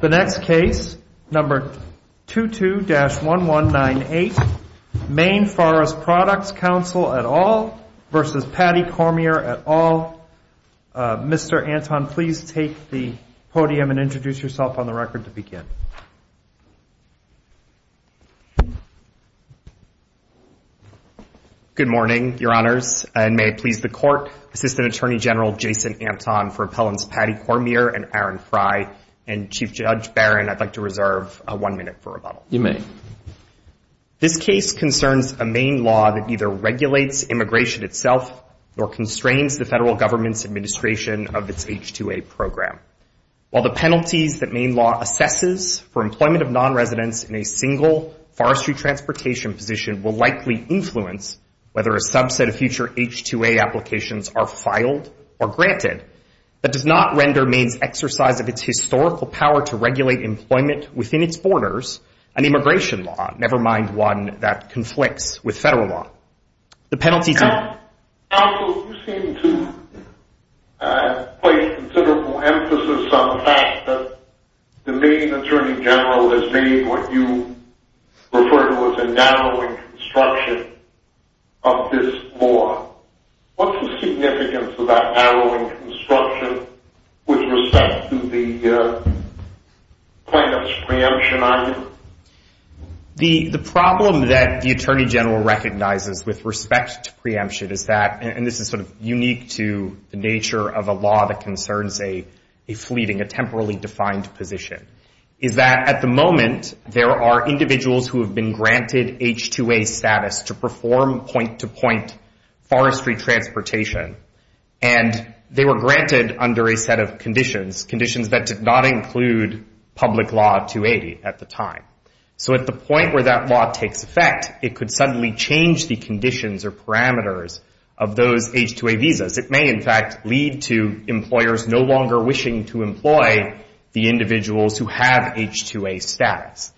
The next case, number 22-1198, Maine Forest Products Council et al. versus Patty Cormier et al. Mr. Anton, please take the podium and introduce yourself on the record to begin. Good morning, Your Honors, and may it please the Court, Assistant Attorney General Jason Anton for Appellants Patty Cormier and Aaron Fry. And Chief Judge Barron, I'd like to reserve one minute for rebuttal. You may. This case concerns a Maine law that either regulates immigration itself or constrains the federal government's administration of its H-2A program. While the penalties that Maine law assesses for employment of nonresidents in a single forestry transportation position will likely influence whether a subset of future H-2A applications are filed or granted, that does not render Maine's exercise of its historical power to regulate employment within its borders an immigration law, never mind one that conflicts with federal law. Counsel, you seem to place considerable emphasis on the fact that the Maine Attorney General has made what you refer to as a narrowing construction of this law. What's the significance of that narrowing construction with respect to the plaintiff's preemption item? The problem that the Attorney General recognizes with respect to preemption is that, and this is sort of unique to the nature of a law that concerns a fleeting, a temporally defined position, is that at the moment, there are individuals who have been granted H-2A status to perform point-to-point forestry transportation, and they were granted under a set of conditions, conditions that did not include public law 280 at the time. So at the point where that law takes effect, it could suddenly change the conditions or parameters of those H-2A visas. It may, in fact, lead to employers no longer wishing to employ the individuals who have H-2A status.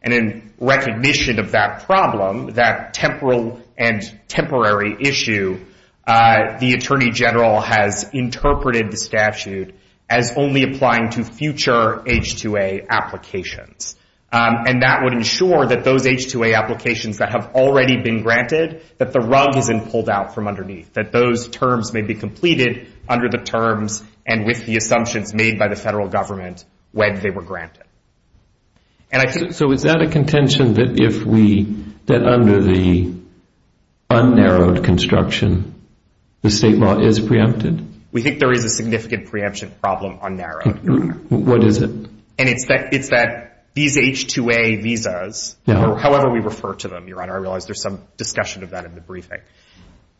And in recognition of that problem, that temporal and temporary issue, the Attorney General has interpreted the statute as only applying to future H-2A applications, and that would ensure that those H-2A applications that have already been granted, that the rug isn't pulled out from underneath, that those terms may be completed under the terms and with the assumptions made by the Federal Government when they were granted. And I think... So is that a contention that if we, that under the unnarrowed construction, the state law is preempted? We think there is a significant preemption problem unnarrowed, Your Honor. What is it? And it's that these H-2A visas, however we refer to them, Your Honor, I realize there's some discussion of that in the briefing,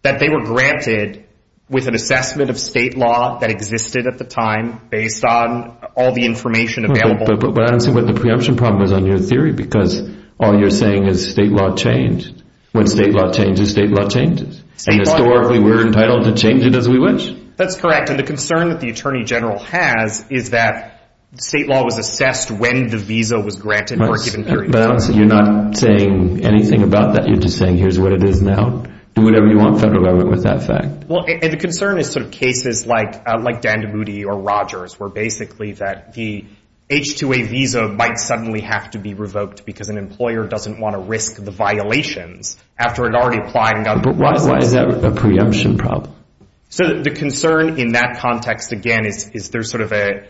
that they were granted with an assessment of state law that existed at the time based on all the information available. But I don't see what the preemption problem is on your theory because all you're saying is state law changed. When state law changes, state law changes. And historically, we're entitled to change it as we wish. That's correct. And the concern that the Attorney General has is that state law was assessed when the visa was granted for a given period of time. But you're not saying anything about that. You're just saying here's what it is now. Do whatever you want, Federal Government, with that fact. Well, the concern is sort of cases like Dandemudi or Rogers where basically that the H-2A visa might suddenly have to be revoked because an employer doesn't want to risk the violations after it already applied and got the visa. But why is that a preemption problem? So the concern in that context, again, is there's sort of a...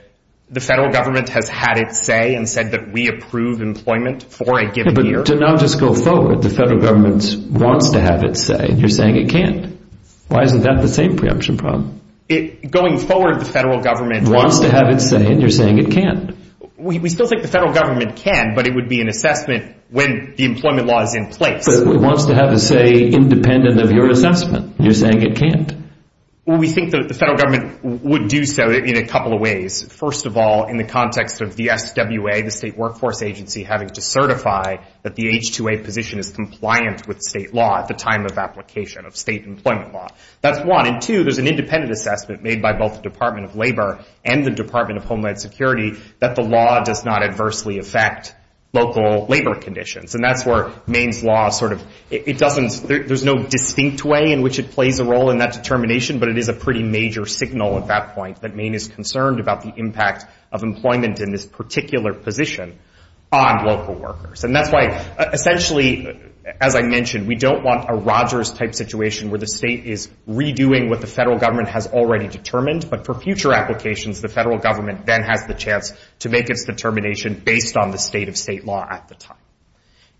The Federal Government has had its say and said that we approve employment for a given year. But to not just go forward, the Federal Government wants to have its say, and you're saying it can't. Why isn't that the same preemption problem? Going forward, the Federal Government wants to have its say, and you're saying it can't. We still think the Federal Government can, but it would be an assessment when the employment law is in place. But it wants to have its say independent of your assessment. You're saying it can't. Well, we think that the Federal Government would do so in a couple of ways. First of all, in the context of the SWA, the State Workforce Agency, having to certify that the H-2A position is compliant with state law at the time of application of state employment law. That's one. And two, there's an independent assessment made by both the Department of Labor and the Department of Homeland Security that the law does not adversely affect local labor conditions. And that's where Maine's law sort of... It doesn't... There's no distinct way in which it plays a role in that determination, but it is a pretty major signal at that point that Maine is concerned about the impact of employment in this particular position on local workers. And that's why, essentially, as I mentioned, we don't want a Rogers-type situation where the state is redoing what the Federal Government has already determined, but for future applications, the Federal Government then has the chance to make its determination based on the state of state law at the time.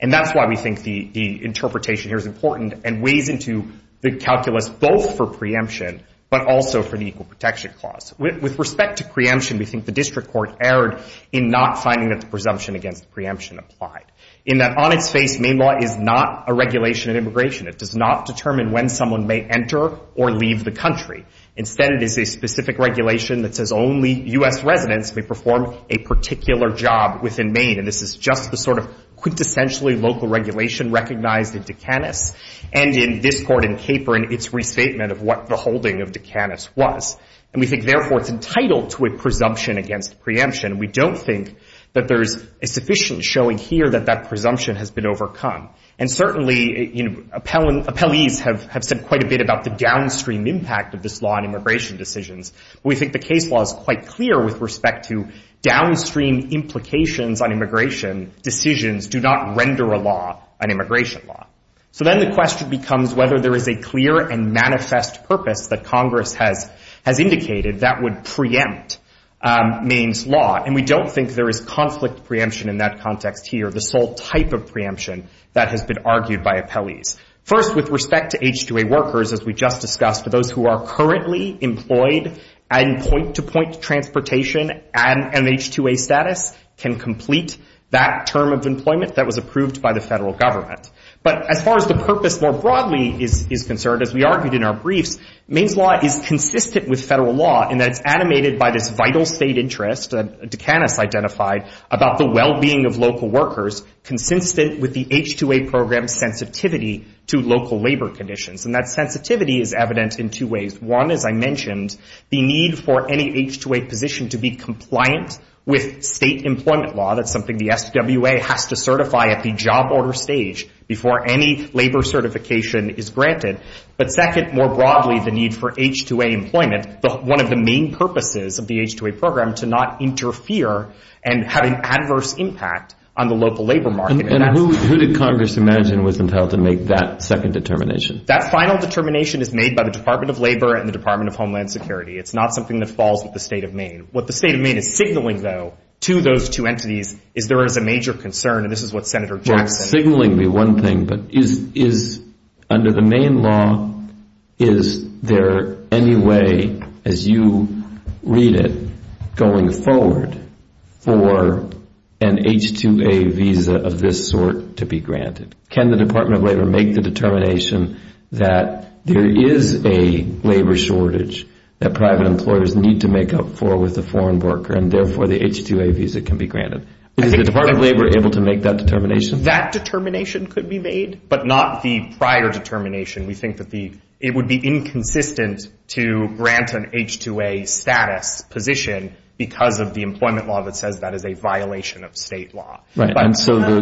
And that's why we think the interpretation here is important and weighs into the calculus both for preemption but also for the Equal Protection Clause. With respect to preemption, we think the district court erred in not finding that the presumption against preemption applied in that, on its face, Maine law is not a regulation of immigration. It does not determine when someone may enter or leave the country. Instead, it is a specific regulation that says only U.S. residents may perform a particular job within Maine. And this is just the sort of quintessentially local regulation recognized in Dukanis and in this court in Caper and its restatement of what the holding of Dukanis was. And we think, therefore, it's entitled to a presumption against preemption. We don't think that there's sufficient showing here that that presumption has been overcome. And certainly, you know, appellees have said quite a bit about the downstream impact of this law on immigration decisions. We think the case law is quite clear with respect to downstream implications on immigration decisions do not render a law an immigration law. So then the question becomes whether there is a clear and manifest purpose that Congress has indicated that would preempt Maine's law. And we don't think there is conflict preemption in that context here, the sole type of preemption that has been argued by appellees. First, with respect to H-2A workers, as we just discussed, for those who are currently employed and point-to-point transportation and H-2A status can complete that term of employment that was approved by the federal government. But as far as the purpose more broadly is concerned, as we argued in our briefs, Maine's law is consistent with federal law in that it's animated by this vital state interest that Dukanis identified about the well-being of local workers consistent with the H-2A program's sensitivity to local labor conditions. And that sensitivity is evident in two ways. One, as I mentioned, the need for any H-2A position to be compliant with state employment law. That's something the SWA has to certify at the job order stage before any labor certification is granted. But second, more broadly, the need for H-2A employment, one of the main purposes of the H-2A program, to not interfere and have an adverse impact on the local labor market. And who did Congress imagine was entitled to make that second determination? That final determination is made by the Department of Labor and the Department of Homeland Security. What the state of Maine is signaling, though, to those two entities is there is a major concern, and this is what Senator Jackson... Well, it's signaling me one thing, but is, under the Maine law, is there any way, as you read it, going forward for an H-2A visa of this sort to be granted? Can the Department of Labor make the determination that there is a labor shortage that private employers need to make up for with a foreign worker, and therefore the H-2A visa can be granted? Is the Department of Labor able to make that determination? That determination could be made, but not the prior determination. We think that it would be inconsistent to grant an H-2A status position because of the employment law that says that is a violation of state law. Right, and so the...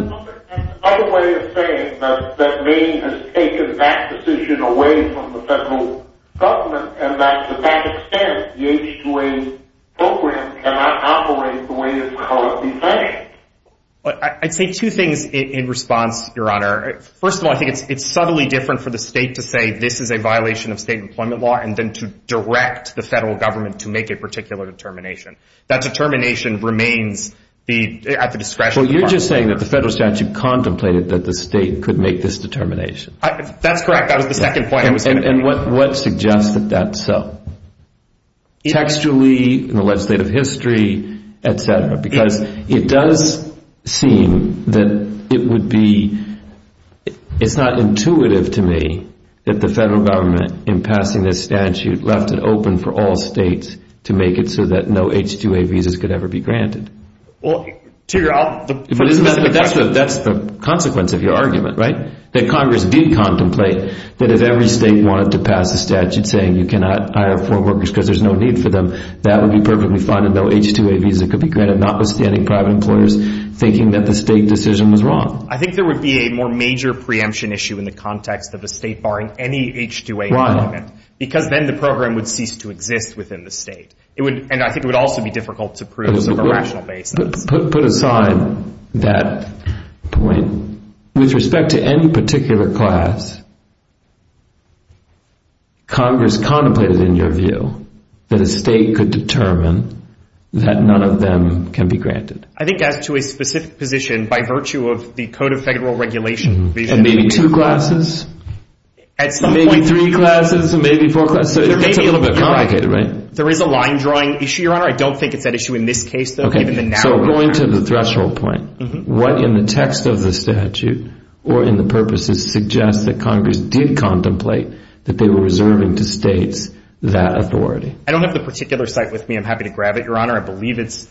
And another way of saying that Maine has taken that decision away from the federal government and that, to that extent, the H-2A program cannot operate the way it's supposed to be functioning. I'd say two things in response, Your Honor. First of all, I think it's subtly different for the state to say this is a violation of state employment law and then to direct the federal government to make a particular determination. That determination remains at the discretion of the department. Well, you're just saying that the federal statute contemplated that the state could make this determination. That's correct. That was the second point I was going to make. And what suggests that that's so? Textually, in the legislative history, etc. Because it does seem that it would be... It's not intuitive to me that the federal government, in passing this statute, left it open for all states to make it so that no H-2A visas could ever be granted. Well, to your... But that's the consequence of your argument, right? That Congress did contemplate that if every state wanted to pass a statute saying you cannot hire foreign workers because there's no need for them, that would be perfectly fine, and no H-2A visa could be granted, notwithstanding private employers thinking that the state decision was wrong. I think there would be a more major preemption issue in the context of a state barring any H-2A employment. Right. Because then the program would cease to exist within the state. And I think it would also be difficult to prove some rational basis. Put aside that point. With respect to any particular class, Congress contemplated, in your view, that a state could determine that none of them can be granted. I think as to a specific position, by virtue of the Code of Federal Regulation... And maybe two classes? At some point... Maybe three classes, maybe four classes? It's a little bit complicated, right? There is a line-drawing issue, Your Honor. I don't think it's that issue in this case, though, given the narrow... So going to the threshold point, what in the text of the statute, or in the purposes, suggests that Congress did contemplate that they were reserving to states that authority? I don't have the particular cite with me. I'm happy to grab it, Your Honor. I believe it's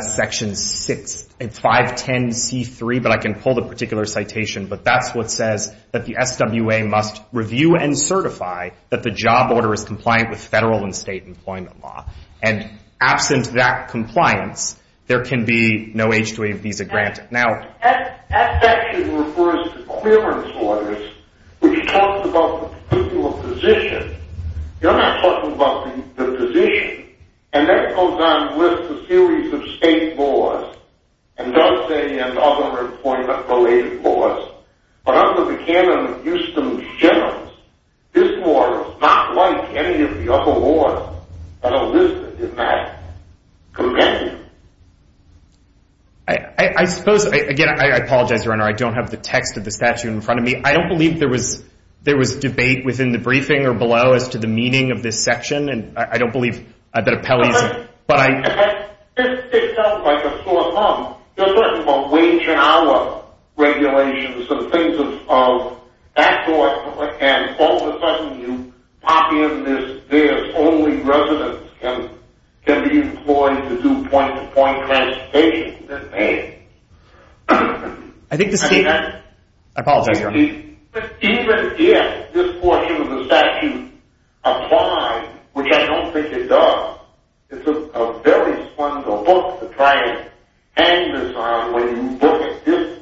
Section 6... It's 510C3, but I can pull the particular citation. But that's what says that the SWA must review and certify that the job order is compliant with federal and state employment law. And absent that compliance, there can be no H-2A visa granted. Now, that section refers to clearance orders, which talks about the particular position. You're not talking about the position. And that goes on with a series of state laws, and does say, and other employment-related laws. But under the canon of Houston's generals, this order is not like any of the other orders that are listed in that convention. I suppose... Again, I apologize, Your Honor. I don't have the text of the statute in front of me. I don't believe there was debate within the briefing or below as to the meaning of this section, and I don't believe that Appellee's... But this sticks out like a sore thumb. You're talking about wage and hour regulations and things of that sort, and all of a sudden you pop in this, this only residents can be employed to do point-to-point transportation. That's bad. I think the state... I apologize, Your Honor. But even if this portion of the statute applies, which I don't think it does, it's a very fundamental book to try and hang this on when you look at this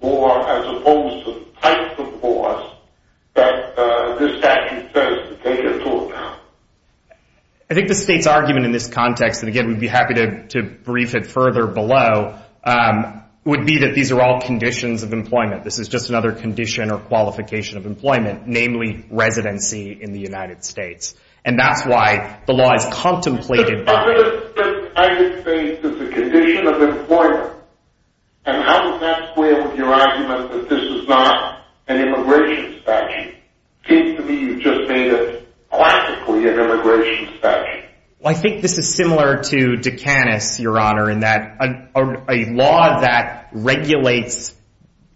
law as opposed to the type of laws that this statute says to take into account. I think the state's argument in this context, and again, we'd be happy to brief it further below, would be that these are all conditions of employment. This is just another condition or qualification of employment, namely residency in the United States. And that's why the law is contemplated by... ...as a condition of employment. And how does that square with your argument that this is not an immigration statute? It seems to me you've just made it classically an immigration statute. Well, I think this is similar to Duqanis, Your Honor, in that a law that regulates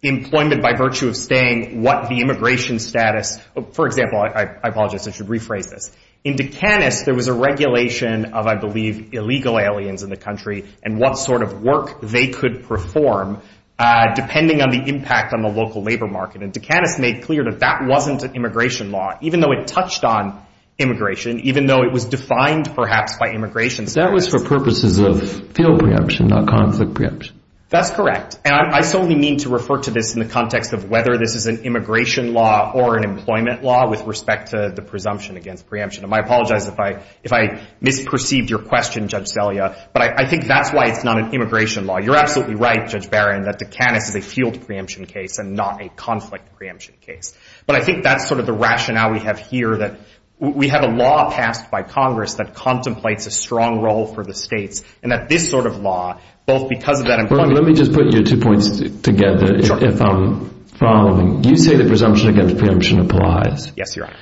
employment by virtue of saying what the immigration status... For example, I apologize, I should rephrase this. In Duqanis, there was a regulation of, I believe, illegal aliens in the country and what sort of work they could perform depending on the impact on the local labor market. And Duqanis made clear that that wasn't an immigration law, even though it touched on immigration, even though it was defined, perhaps, by immigration. That was for purposes of field preemption, not conflict preemption. That's correct. And I solely mean to refer to this in the context of whether this is an immigration law or an employment law with respect to the presumption against preemption. And I apologize if I misperceived your question, Judge Selya, but I think that's why it's not an immigration law. You're absolutely right, Judge Barron, that Duqanis is a field preemption case and not a conflict preemption case. But I think that's sort of the rationale we have here, that we have a law passed by Congress that contemplates a strong role for the states and that this sort of law, both because of that employment... Let me just put your two points together if I'm following. You say the presumption against preemption applies. Yes, Your Honor.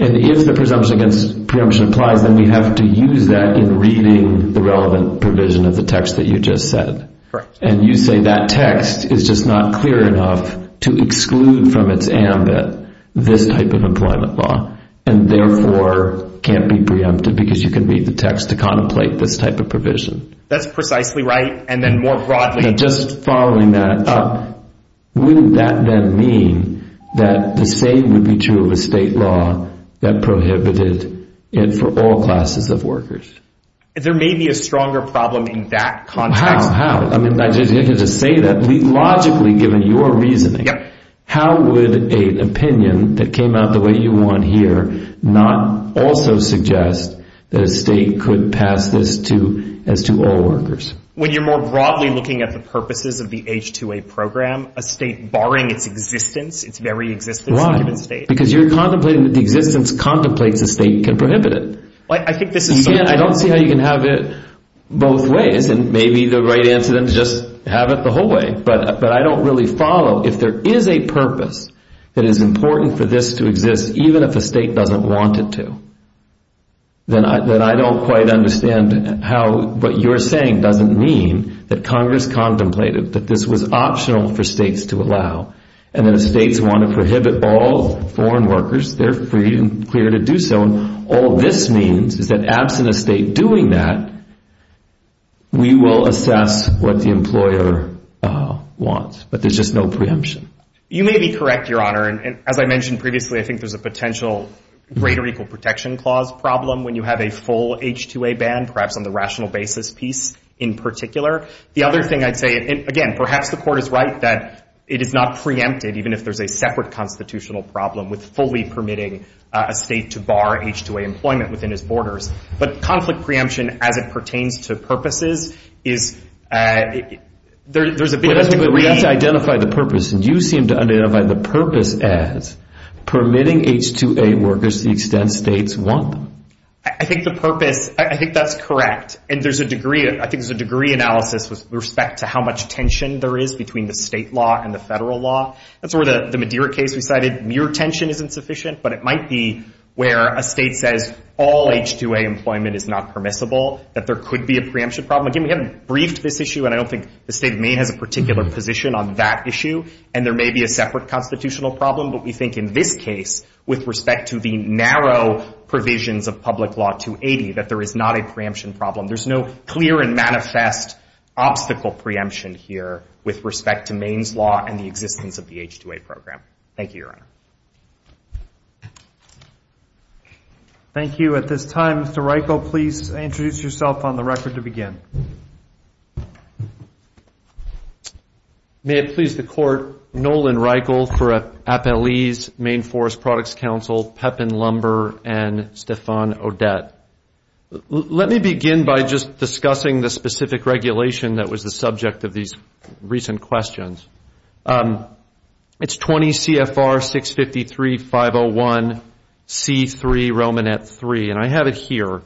And if the presumption against preemption applies, then we have to use that in reading the relevant provision of the text that you just said. Correct. And you say that text is just not clear enough to exclude from its ambit this type of employment law and, therefore, can't be preempted because you can read the text to contemplate this type of provision. That's precisely right, and then more broadly... Just following that up, wouldn't that then mean that the same would be true of a state law that prohibited it for all classes of workers? There may be a stronger problem in that context. How? How? I mean, just to say that, logically, given your reasoning, how would an opinion that came out the way you want here not also suggest that a state could pass this as to all workers? When you're more broadly looking at the purposes of the H-2A program, a state barring its existence, its very existence in a given state... Right, because you're contemplating that the existence contemplates a state can prohibit it. I think this is... I don't see how you can have it both ways, and maybe the right answer then is just have it the whole way. But I don't really follow. If there is a purpose that is important for this to exist, even if a state doesn't want it to, then I don't quite understand how what you're saying doesn't mean that Congress contemplated that this was optional for states to allow, and that if states want to prohibit all foreign workers, they're free and clear to do so. All this means is that absent a state doing that, we will assess what the employer wants, but there's just no preemption. You may be correct, Your Honor, and as I mentioned previously, I think there's a potential greater equal protection clause problem when you have a full H-2A ban. Perhaps on the rational basis piece in particular. The other thing I'd say... Again, perhaps the Court is right that it is not preempted, even if there's a separate constitutional problem with fully permitting a state to bar H-2A employment within its borders. But conflict preemption as it pertains to purposes is... There's a big... But we have to identify the purpose, and you seem to identify the purpose as permitting H-2A workers the extent states want them. I think the purpose... I think that's correct, and there's a degree... I think there's a degree analysis with respect to how much tension there is between the state law and the federal law. That's where the Madeira case we cited, mere tension isn't sufficient, but it might be where a state says all H-2A employment is not permissible, that there could be a preemption problem. Again, we haven't briefed this issue, and I don't think the State of Maine has a particular position on that issue, and there may be a separate constitutional problem, but we think in this case, with respect to the narrow provisions of Public Law 280, that there is not a preemption problem. There's no clear and manifest obstacle preemption here with respect to Maine's law and the existence of the H-2A program. Thank you, Your Honor. Thank you. At this time, Mr. Reichel, please introduce yourself on the record to begin. May it please the Court, Nolan Reichel for Appellee's Maine Forest Products Council, Pepin Lumber, and Stephan Odette. Let me begin by just discussing the specific regulation that was the subject of these recent questions. It's 20 CFR 653-501C3, Romanet III, and I have it here.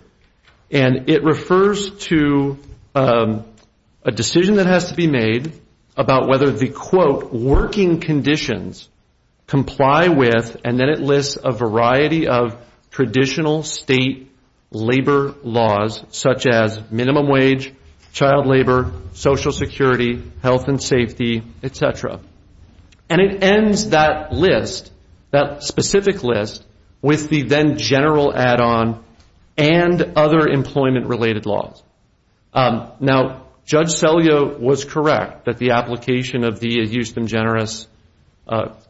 And it refers to a decision that has to be made about whether the, quote, working conditions comply with, and then it lists a variety of traditional state labor laws, such as minimum wage, child labor, social security, health and safety, et cetera. And it ends that list, that specific list, with the then general add-on and other employment-related laws. Now, Judge Selyo was correct that the application of the Euston-Generis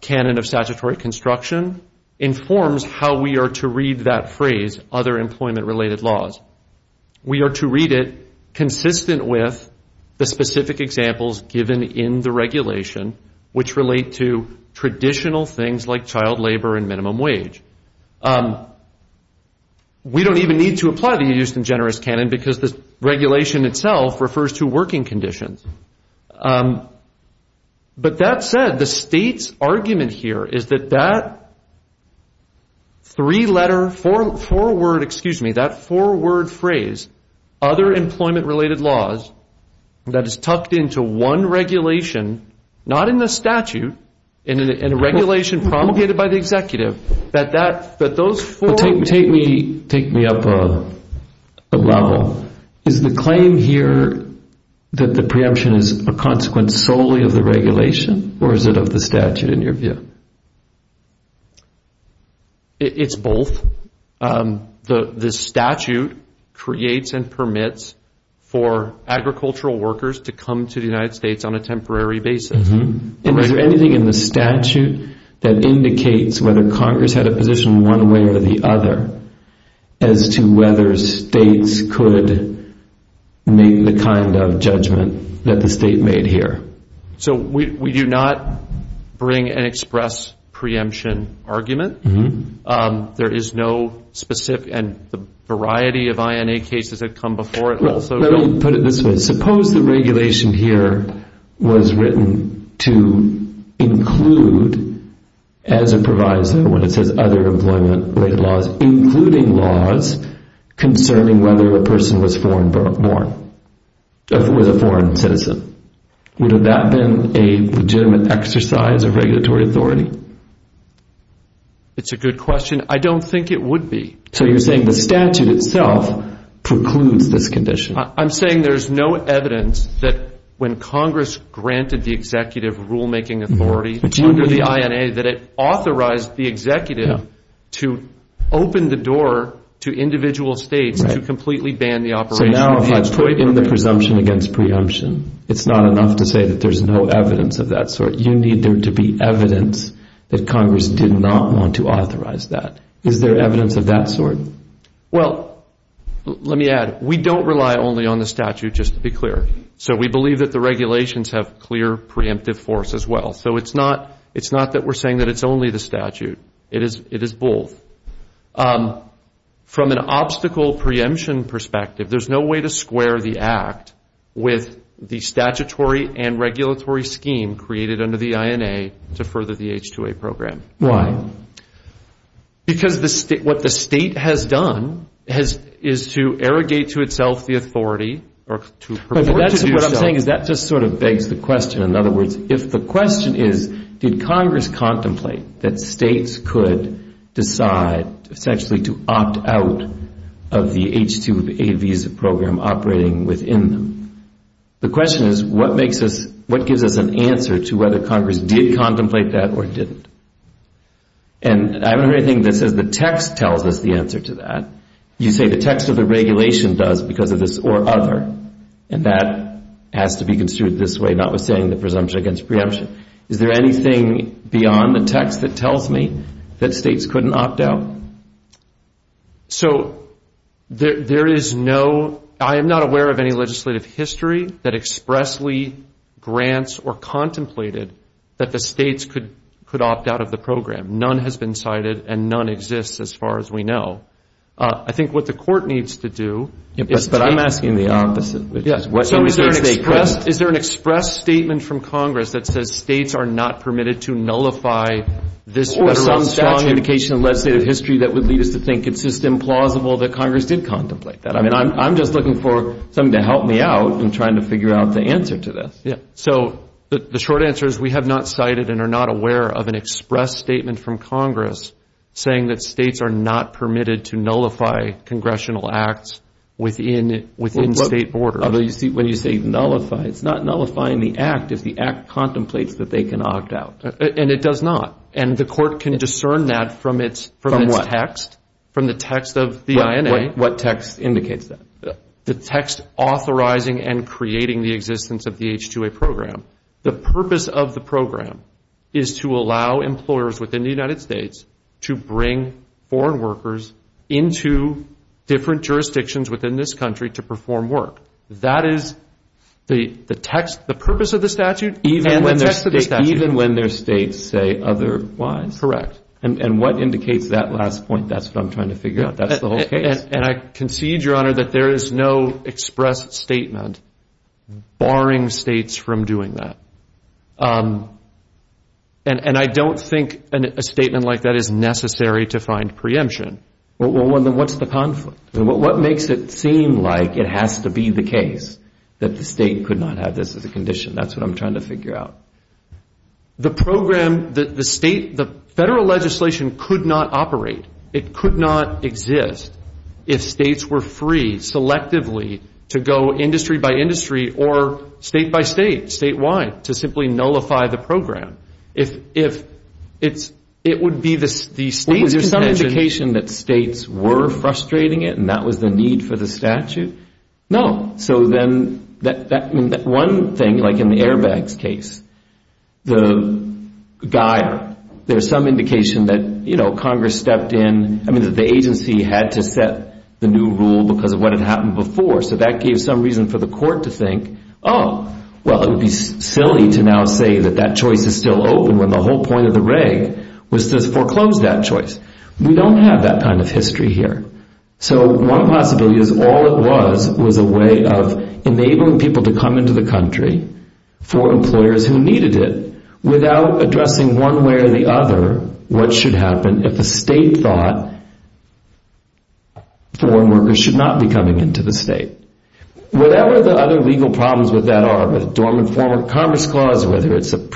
Canon of Statutory Construction informs how we are to read that phrase, other employment-related laws. We are to read it consistent with the specific examples given in the regulation, which relate to traditional things like child labor and minimum wage. We don't even need to apply the Euston-Generis Canon because the regulation itself refers to working conditions. But that said, the state's argument here is that that three-letter, four-word, excuse me, that four-word phrase, other employment-related laws, that is tucked into one regulation, not in the statute, in a regulation promulgated by the executive, that those four... Take me up a level. Is the claim here that the preemption is a consequence solely of the regulation, or is it of the statute in your view? It's both. The statute creates and permits for agricultural workers to come to the United States on a temporary basis. And is there anything in the statute that indicates whether Congress had a position one way or the other as to whether states could make the kind of judgment that the state made here? So we do not bring and express preemption argument. There is no specific... And the variety of INA cases that come before it also... Well, let me put it this way. Suppose the regulation here was written to include as a provisor, when it says other employment-related laws, including laws concerning whether a person was a foreign citizen. Would that have been a legitimate exercise of regulatory authority? It's a good question. I don't think it would be. So you're saying the statute itself precludes this condition. I'm saying there's no evidence that when Congress granted the executive rule-making authority under the INA that it authorized the executive to open the door to individual states to completely ban the operation of Hodge Piper. So now if you put in the presumption against preemption, it's not enough to say that there's no evidence of that sort. You need there to be evidence that Congress did not want to authorize that. Is there evidence of that sort? Well, let me add, we don't rely only on the statute, just to be clear. So we believe that the regulations have clear preemptive force as well. So it's not that we're saying that it's only the statute. It is both. From an obstacle preemption perspective, there's no way to square the act with the statutory and regulatory scheme created under the INA to further the H-2A program. Why? Because what the state has done is to arrogate to itself the authority or to purport to do so. What I'm saying is that just sort of begs the question. In other words, if the question is did Congress contemplate that states could decide essentially to opt out of the H-2A visa program operating within them, the question is what makes us, what gives us an answer to whether Congress did contemplate that or didn't. And I don't hear anything that says the text tells us the answer to that. You say the text of the regulation does because of this or other, and that has to be construed this way, not with saying the presumption against preemption. Is there anything beyond the text that tells me that states couldn't opt out? So there is no, I am not aware of any legislative history that expressly grants or contemplated that the states could opt out of the program. None has been cited, and none exists as far as we know. I think what the court needs to do is take the case. But I'm asking the opposite. So is there an express statement from Congress that says states are not permitted to nullify this or some strong indication of legislative history that would lead us to think it's just implausible that Congress did contemplate that? I mean, I'm just looking for something to help me out in trying to figure out the answer to this. So the short answer is we have not cited and are not aware of an express statement from Congress saying that states are not permitted to nullify congressional acts within state borders. When you say nullify, it's not nullifying the act if the act contemplates that they can opt out. And it does not. And the court can discern that from its text. From what? From the text of the INA. What text indicates that? The text authorizing and creating the existence of the H-2A program. The purpose of the program is to allow employers within the United States to bring foreign workers into different jurisdictions within this country to perform work. That is the purpose of the statute and the text of the statute. Even when their states say otherwise? Correct. And what indicates that last point? That's what I'm trying to figure out. That's the whole case. And I concede, Your Honor, that there is no express statement barring states from doing that. And I don't think a statement like that is necessary to find preemption. Well, then what's the conflict? What makes it seem like it has to be the case that the state could not have this as a condition? That's what I'm trying to figure out. The program, the state, the federal legislation could not operate. It could not exist if states were free, selectively, to go industry by industry or state by state, statewide, to simply nullify the program. If it would be the state's condition. Was there some indication that states were frustrating it and that was the need for the statute? No. So then that one thing, like in the airbags case, the guy, there's some indication that, you know, the agency had to set the new rule because of what had happened before. So that gave some reason for the court to think, oh, well, it would be silly to now say that that choice is still open when the whole point of the reg was to foreclose that choice. We don't have that kind of history here. So one possibility is all it was was a way of enabling people to come into the country for employers who needed it without addressing one way or the other what should happen if a state thought foreign workers should not be coming into the state. Whatever the other legal problems with that are, whether it's a dormant form of commerce clause, whether it's an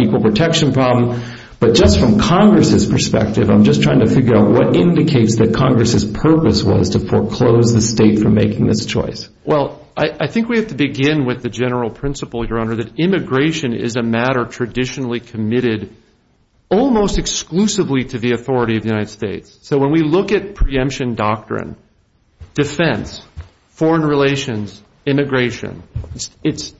equal protection problem, but just from Congress's perspective, I'm just trying to figure out what indicates that Congress's purpose was to foreclose the state from making this choice. Well, I think we have to begin with the general principle, Your Honor, that immigration is a matter traditionally committed almost exclusively to the authority of the United States. So when we look at preemption doctrine, defense, foreign relations, immigration, it's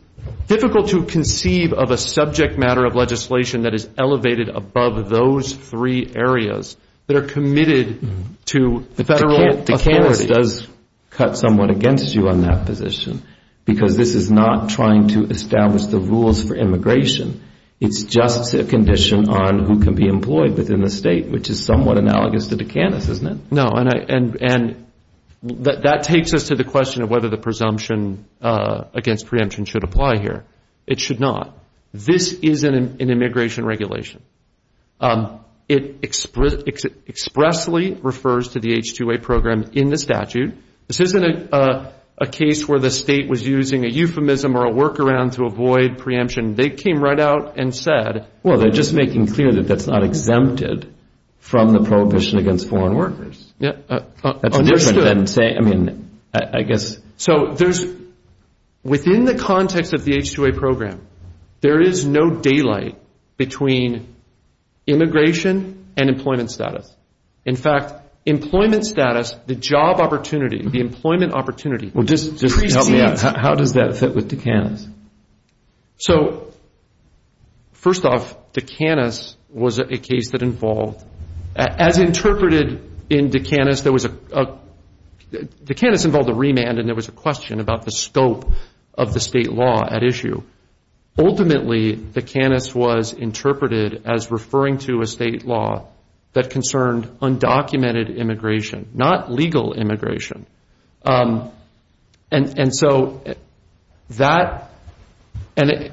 difficult to conceive of a subject matter of legislation that is elevated above those three areas that are committed to federal authority. It does cut somewhat against you on that position, because this is not trying to establish the rules for immigration. It's just a condition on who can be employed within the state, which is somewhat analogous to DeCantis, isn't it? No, and that takes us to the question of whether the presumption against preemption should apply here. It should not. This is an immigration regulation. It expressly refers to the H-2A program in the statute. This isn't a case where the state was using a euphemism or a workaround to avoid preemption. They came right out and said- Well, they're just making clear that that's not exempted from the prohibition against foreign workers. Understood. I mean, I guess- So there's-within the context of the H-2A program, there is no daylight between immigration and employment status. In fact, employment status, the job opportunity, the employment opportunity- Well, just help me out. How does that fit with DeCantis? So first off, DeCantis was a case that involved-as interpreted in DeCantis, there was a-DeCantis involved a remand and there was a question about the scope of the state law at issue. Ultimately, DeCantis was interpreted as referring to a state law that concerned undocumented immigration, not legal immigration. And so that-and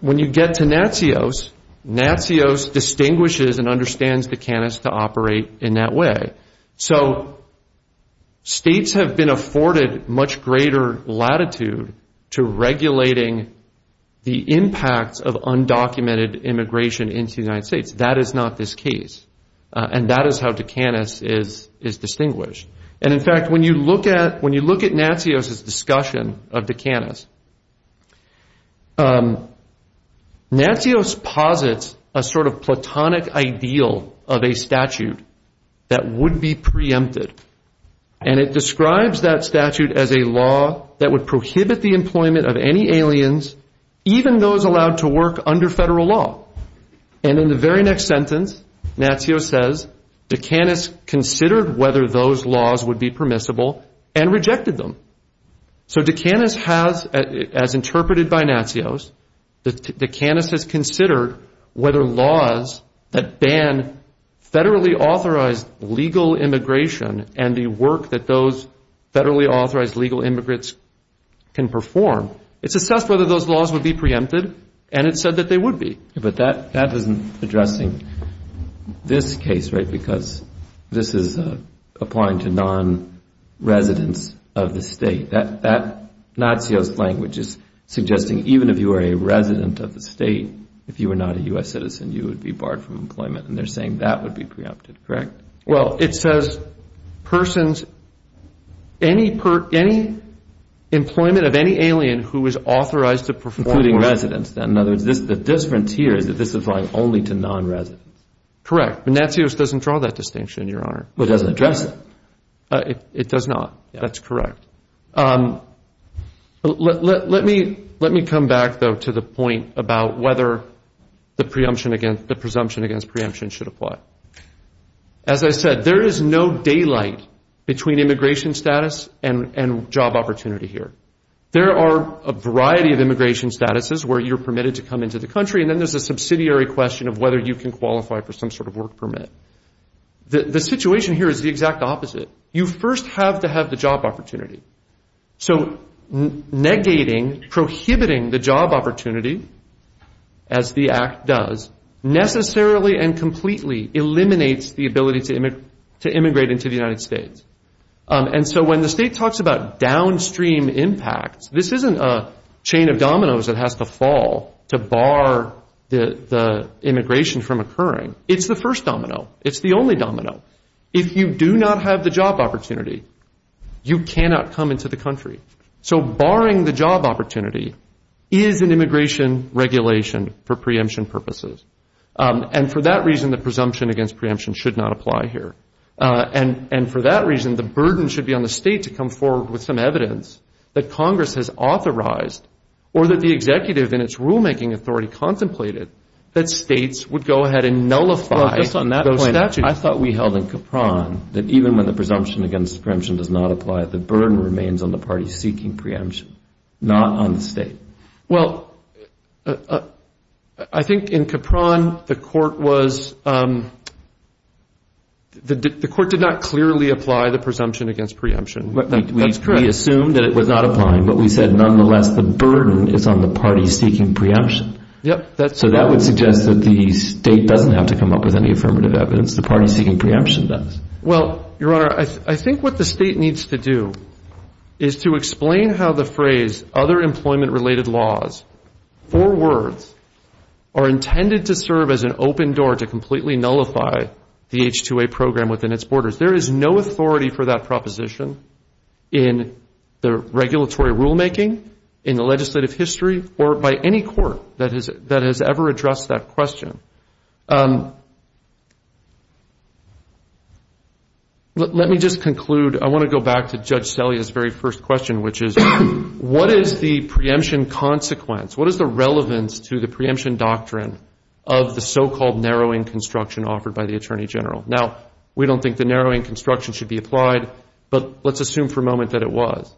when you get to Natsios, Natsios distinguishes and understands DeCantis to operate in that way. So states have been afforded much greater latitude to regulating the impacts of undocumented immigration into the United States. That is not this case. And that is how DeCantis is distinguished. And in fact, when you look at-when you look at Natsios' discussion of DeCantis, Natsios posits a sort of platonic ideal of a statute that would be preempted. And it describes that statute as a law that would prohibit the employment of any aliens, even those allowed to work under federal law. And in the very next sentence, Natsios says, DeCantis considered whether those laws would be permissible and rejected them. So DeCantis has, as interpreted by Natsios, DeCantis has considered whether laws that ban federally authorized legal immigration and the work that those federally authorized legal immigrants can perform, it's assessed whether those laws would be preempted, and it's said that they would be. But that isn't addressing this case, right? Because this is applying to non-residents of the state. That Natsios language is suggesting even if you were a resident of the state, if you were not a U.S. citizen, you would be barred from employment. And they're saying that would be preempted, correct? Well, it says persons-any employment of any alien who is authorized to perform- Including residents. In other words, the difference here is that this is applying only to non-residents. Correct. Natsios doesn't draw that distinction, Your Honor. Well, it doesn't address it. It does not. That's correct. Let me come back, though, to the point about whether the presumption against preemption should apply. As I said, there is no daylight between immigration status and job opportunity here. There are a variety of immigration statuses where you're permitted to come into the country, and then there's a subsidiary question of whether you can qualify for some sort of work permit. The situation here is the exact opposite. You first have to have the job opportunity. So negating, prohibiting the job opportunity, as the Act does, necessarily and completely eliminates the ability to immigrate into the United States. And so when the state talks about downstream impacts, this isn't a chain of dominoes that has to fall to bar the immigration from occurring. It's the first domino. It's the only domino. If you do not have the job opportunity, you cannot come into the country. So barring the job opportunity is an immigration regulation for preemption purposes. And for that reason, the presumption against preemption should not apply here. And for that reason, the burden should be on the state to come forward with some evidence that Congress has authorized or that the executive in its rulemaking authority contemplated that states would go ahead and nullify those statutes. I thought we held in Capron that even when the presumption against preemption does not apply, the burden remains on the parties seeking preemption, not on the state. Well, I think in Capron the court was the court did not clearly apply the presumption against preemption. That's correct. We assumed that it was not applying, but we said nonetheless the burden is on the parties seeking preemption. Yep. So that would suggest that the state doesn't have to come up with any affirmative evidence. The parties seeking preemption does. Well, Your Honor, I think what the state needs to do is to explain how the phrase other employment related laws, four words, are intended to serve as an open door to completely nullify the H-2A program within its borders. There is no authority for that proposition in the regulatory rulemaking, in the legislative history, or by any court that has ever addressed that question. Let me just conclude. I want to go back to Judge Sellea's very first question, which is what is the preemption consequence? What is the relevance to the preemption doctrine of the so-called narrowing construction offered by the Attorney General? Now, we don't think the narrowing construction should be applied, but let's assume for a moment that it was.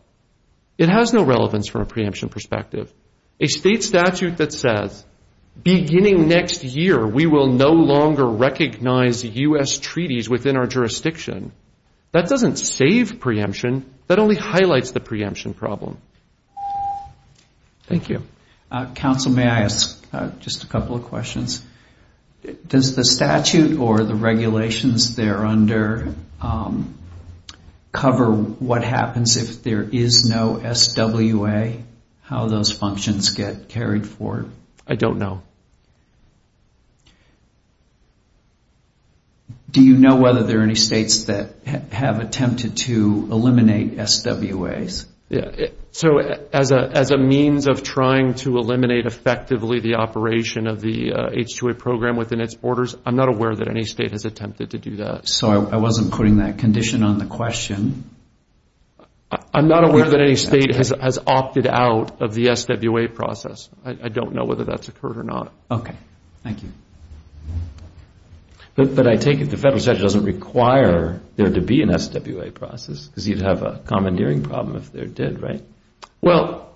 It has no relevance from a preemption perspective. A state statute that says beginning next year we will no longer recognize U.S. treaties within our jurisdiction, that doesn't save preemption, that only highlights the preemption problem. Thank you. Counsel, may I ask just a couple of questions? Does the statute or the regulations there under cover what happens if there is no S-W-A, how those functions get carried forward? I don't know. Do you know whether there are any states that have attempted to eliminate S-W-As? As a means of trying to eliminate effectively the operation of the H-2A program within its borders, I'm not aware that any state has attempted to do that. I wasn't putting that condition on the question. I'm not aware that any state has opted out of the S-W-A process. I don't know whether that's occurred or not. Okay. Thank you. But I take it the federal statute doesn't require there to be an S-W-A process, because you'd have a commandeering problem if there did, right? Well,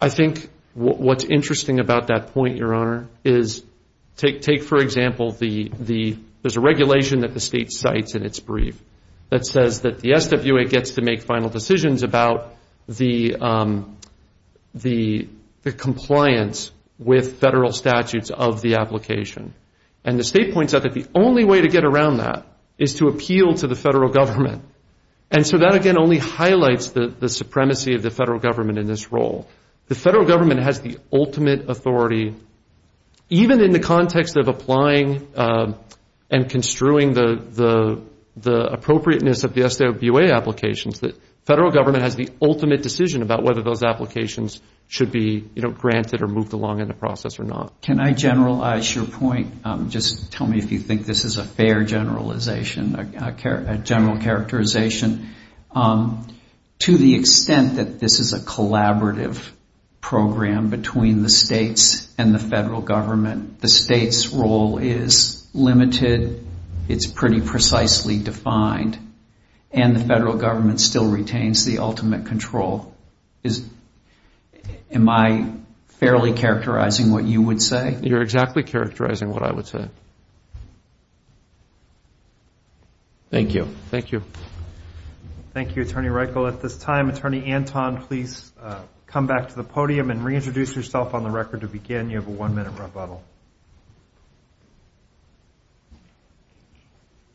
I think what's interesting about that point, Your Honor, is take, for example, there's a regulation that the state cites in its brief that says that the S-W-A gets to make final decisions about the compliance with federal statutes of the application. And the state points out that the only way to get around that is to appeal to the federal government. And so that, again, only highlights the supremacy of the federal government in this role. The federal government has the ultimate authority, even in the context of applying and construing the appropriateness of the S-W-A applications, the federal government has the ultimate decision about whether those applications should be, you know, granted or moved along in the process or not. Can I generalize your point? Just tell me if you think this is a fair generalization, a general characterization. To the extent that this is a collaborative program between the states and the federal government, the state's role is limited, it's pretty precisely defined, and the federal government still retains the ultimate control. Am I fairly characterizing what you would say? You're exactly characterizing what I would say. Thank you. Thank you. Thank you, Attorney Reichel. At this time, Attorney Anton, please come back to the podium and reintroduce yourself on the record to begin. You have a one-minute rebuttal.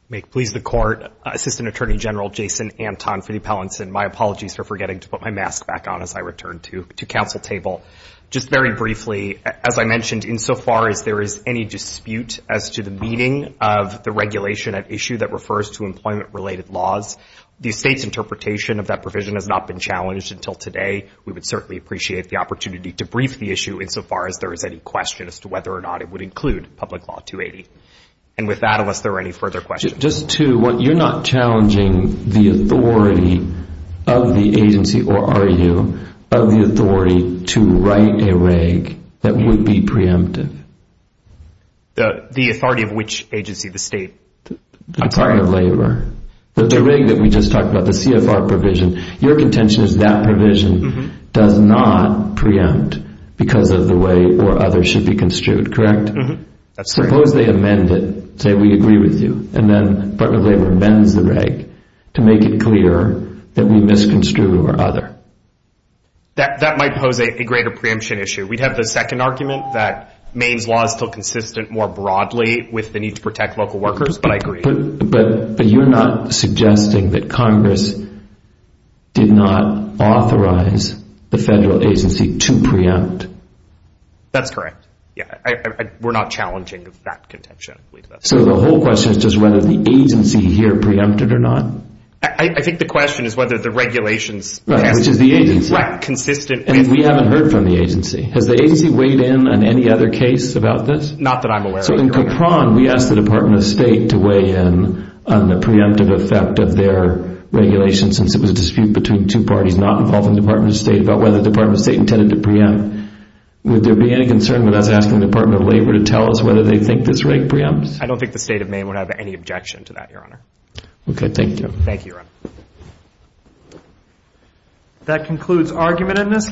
May it please the Court, Assistant Attorney General Jason Anton for the Appellants, and my apologies for forgetting to put my mask back on as I return to council table. Just very briefly, as I mentioned, insofar as there is any dispute as to the meaning of the regulation at issue that refers to employment-related laws, the state's interpretation of that provision has not been challenged until today. We would certainly appreciate the opportunity to brief the issue insofar as there is any question as to whether or not it would include Public Law 280. And with that, unless there are any further questions. Just two. One, you're not challenging the authority of the agency, or are you, of the authority to write a reg that would be preemptive? The authority of which agency? The state? I'm sorry. The Department of Labor. The reg that we just talked about, the CFR provision, your contention is that provision does not preempt because of the way where others should be construed, correct? Mm-hmm. That's correct. Suppose they amend it, say we agree with you, and then Department of Labor amends the reg to make it clear that we misconstrue our other. That might pose a greater preemption issue. We'd have the second argument that Maine's law is still consistent more broadly with the need to protect local workers, but I agree. But you're not suggesting that Congress did not authorize the federal agency to preempt? That's correct. We're not challenging that contention. So the whole question is just whether the agency here preempted or not? I think the question is whether the regulations passed consistently. And we haven't heard from the agency. Has the agency weighed in on any other case about this? Not that I'm aware of. So in Capron, we asked the Department of State to weigh in on the preemptive effect of their regulation since it was a dispute between two parties not involved in the Department of State about whether the Department of State intended to preempt. Would there be any concern with us asking the Department of Labor to tell us whether they think this reg preempts? I don't think the state of Maine would have any objection to that, Your Honor. Okay. Thank you. Thank you, Your Honor. That concludes argument in this case.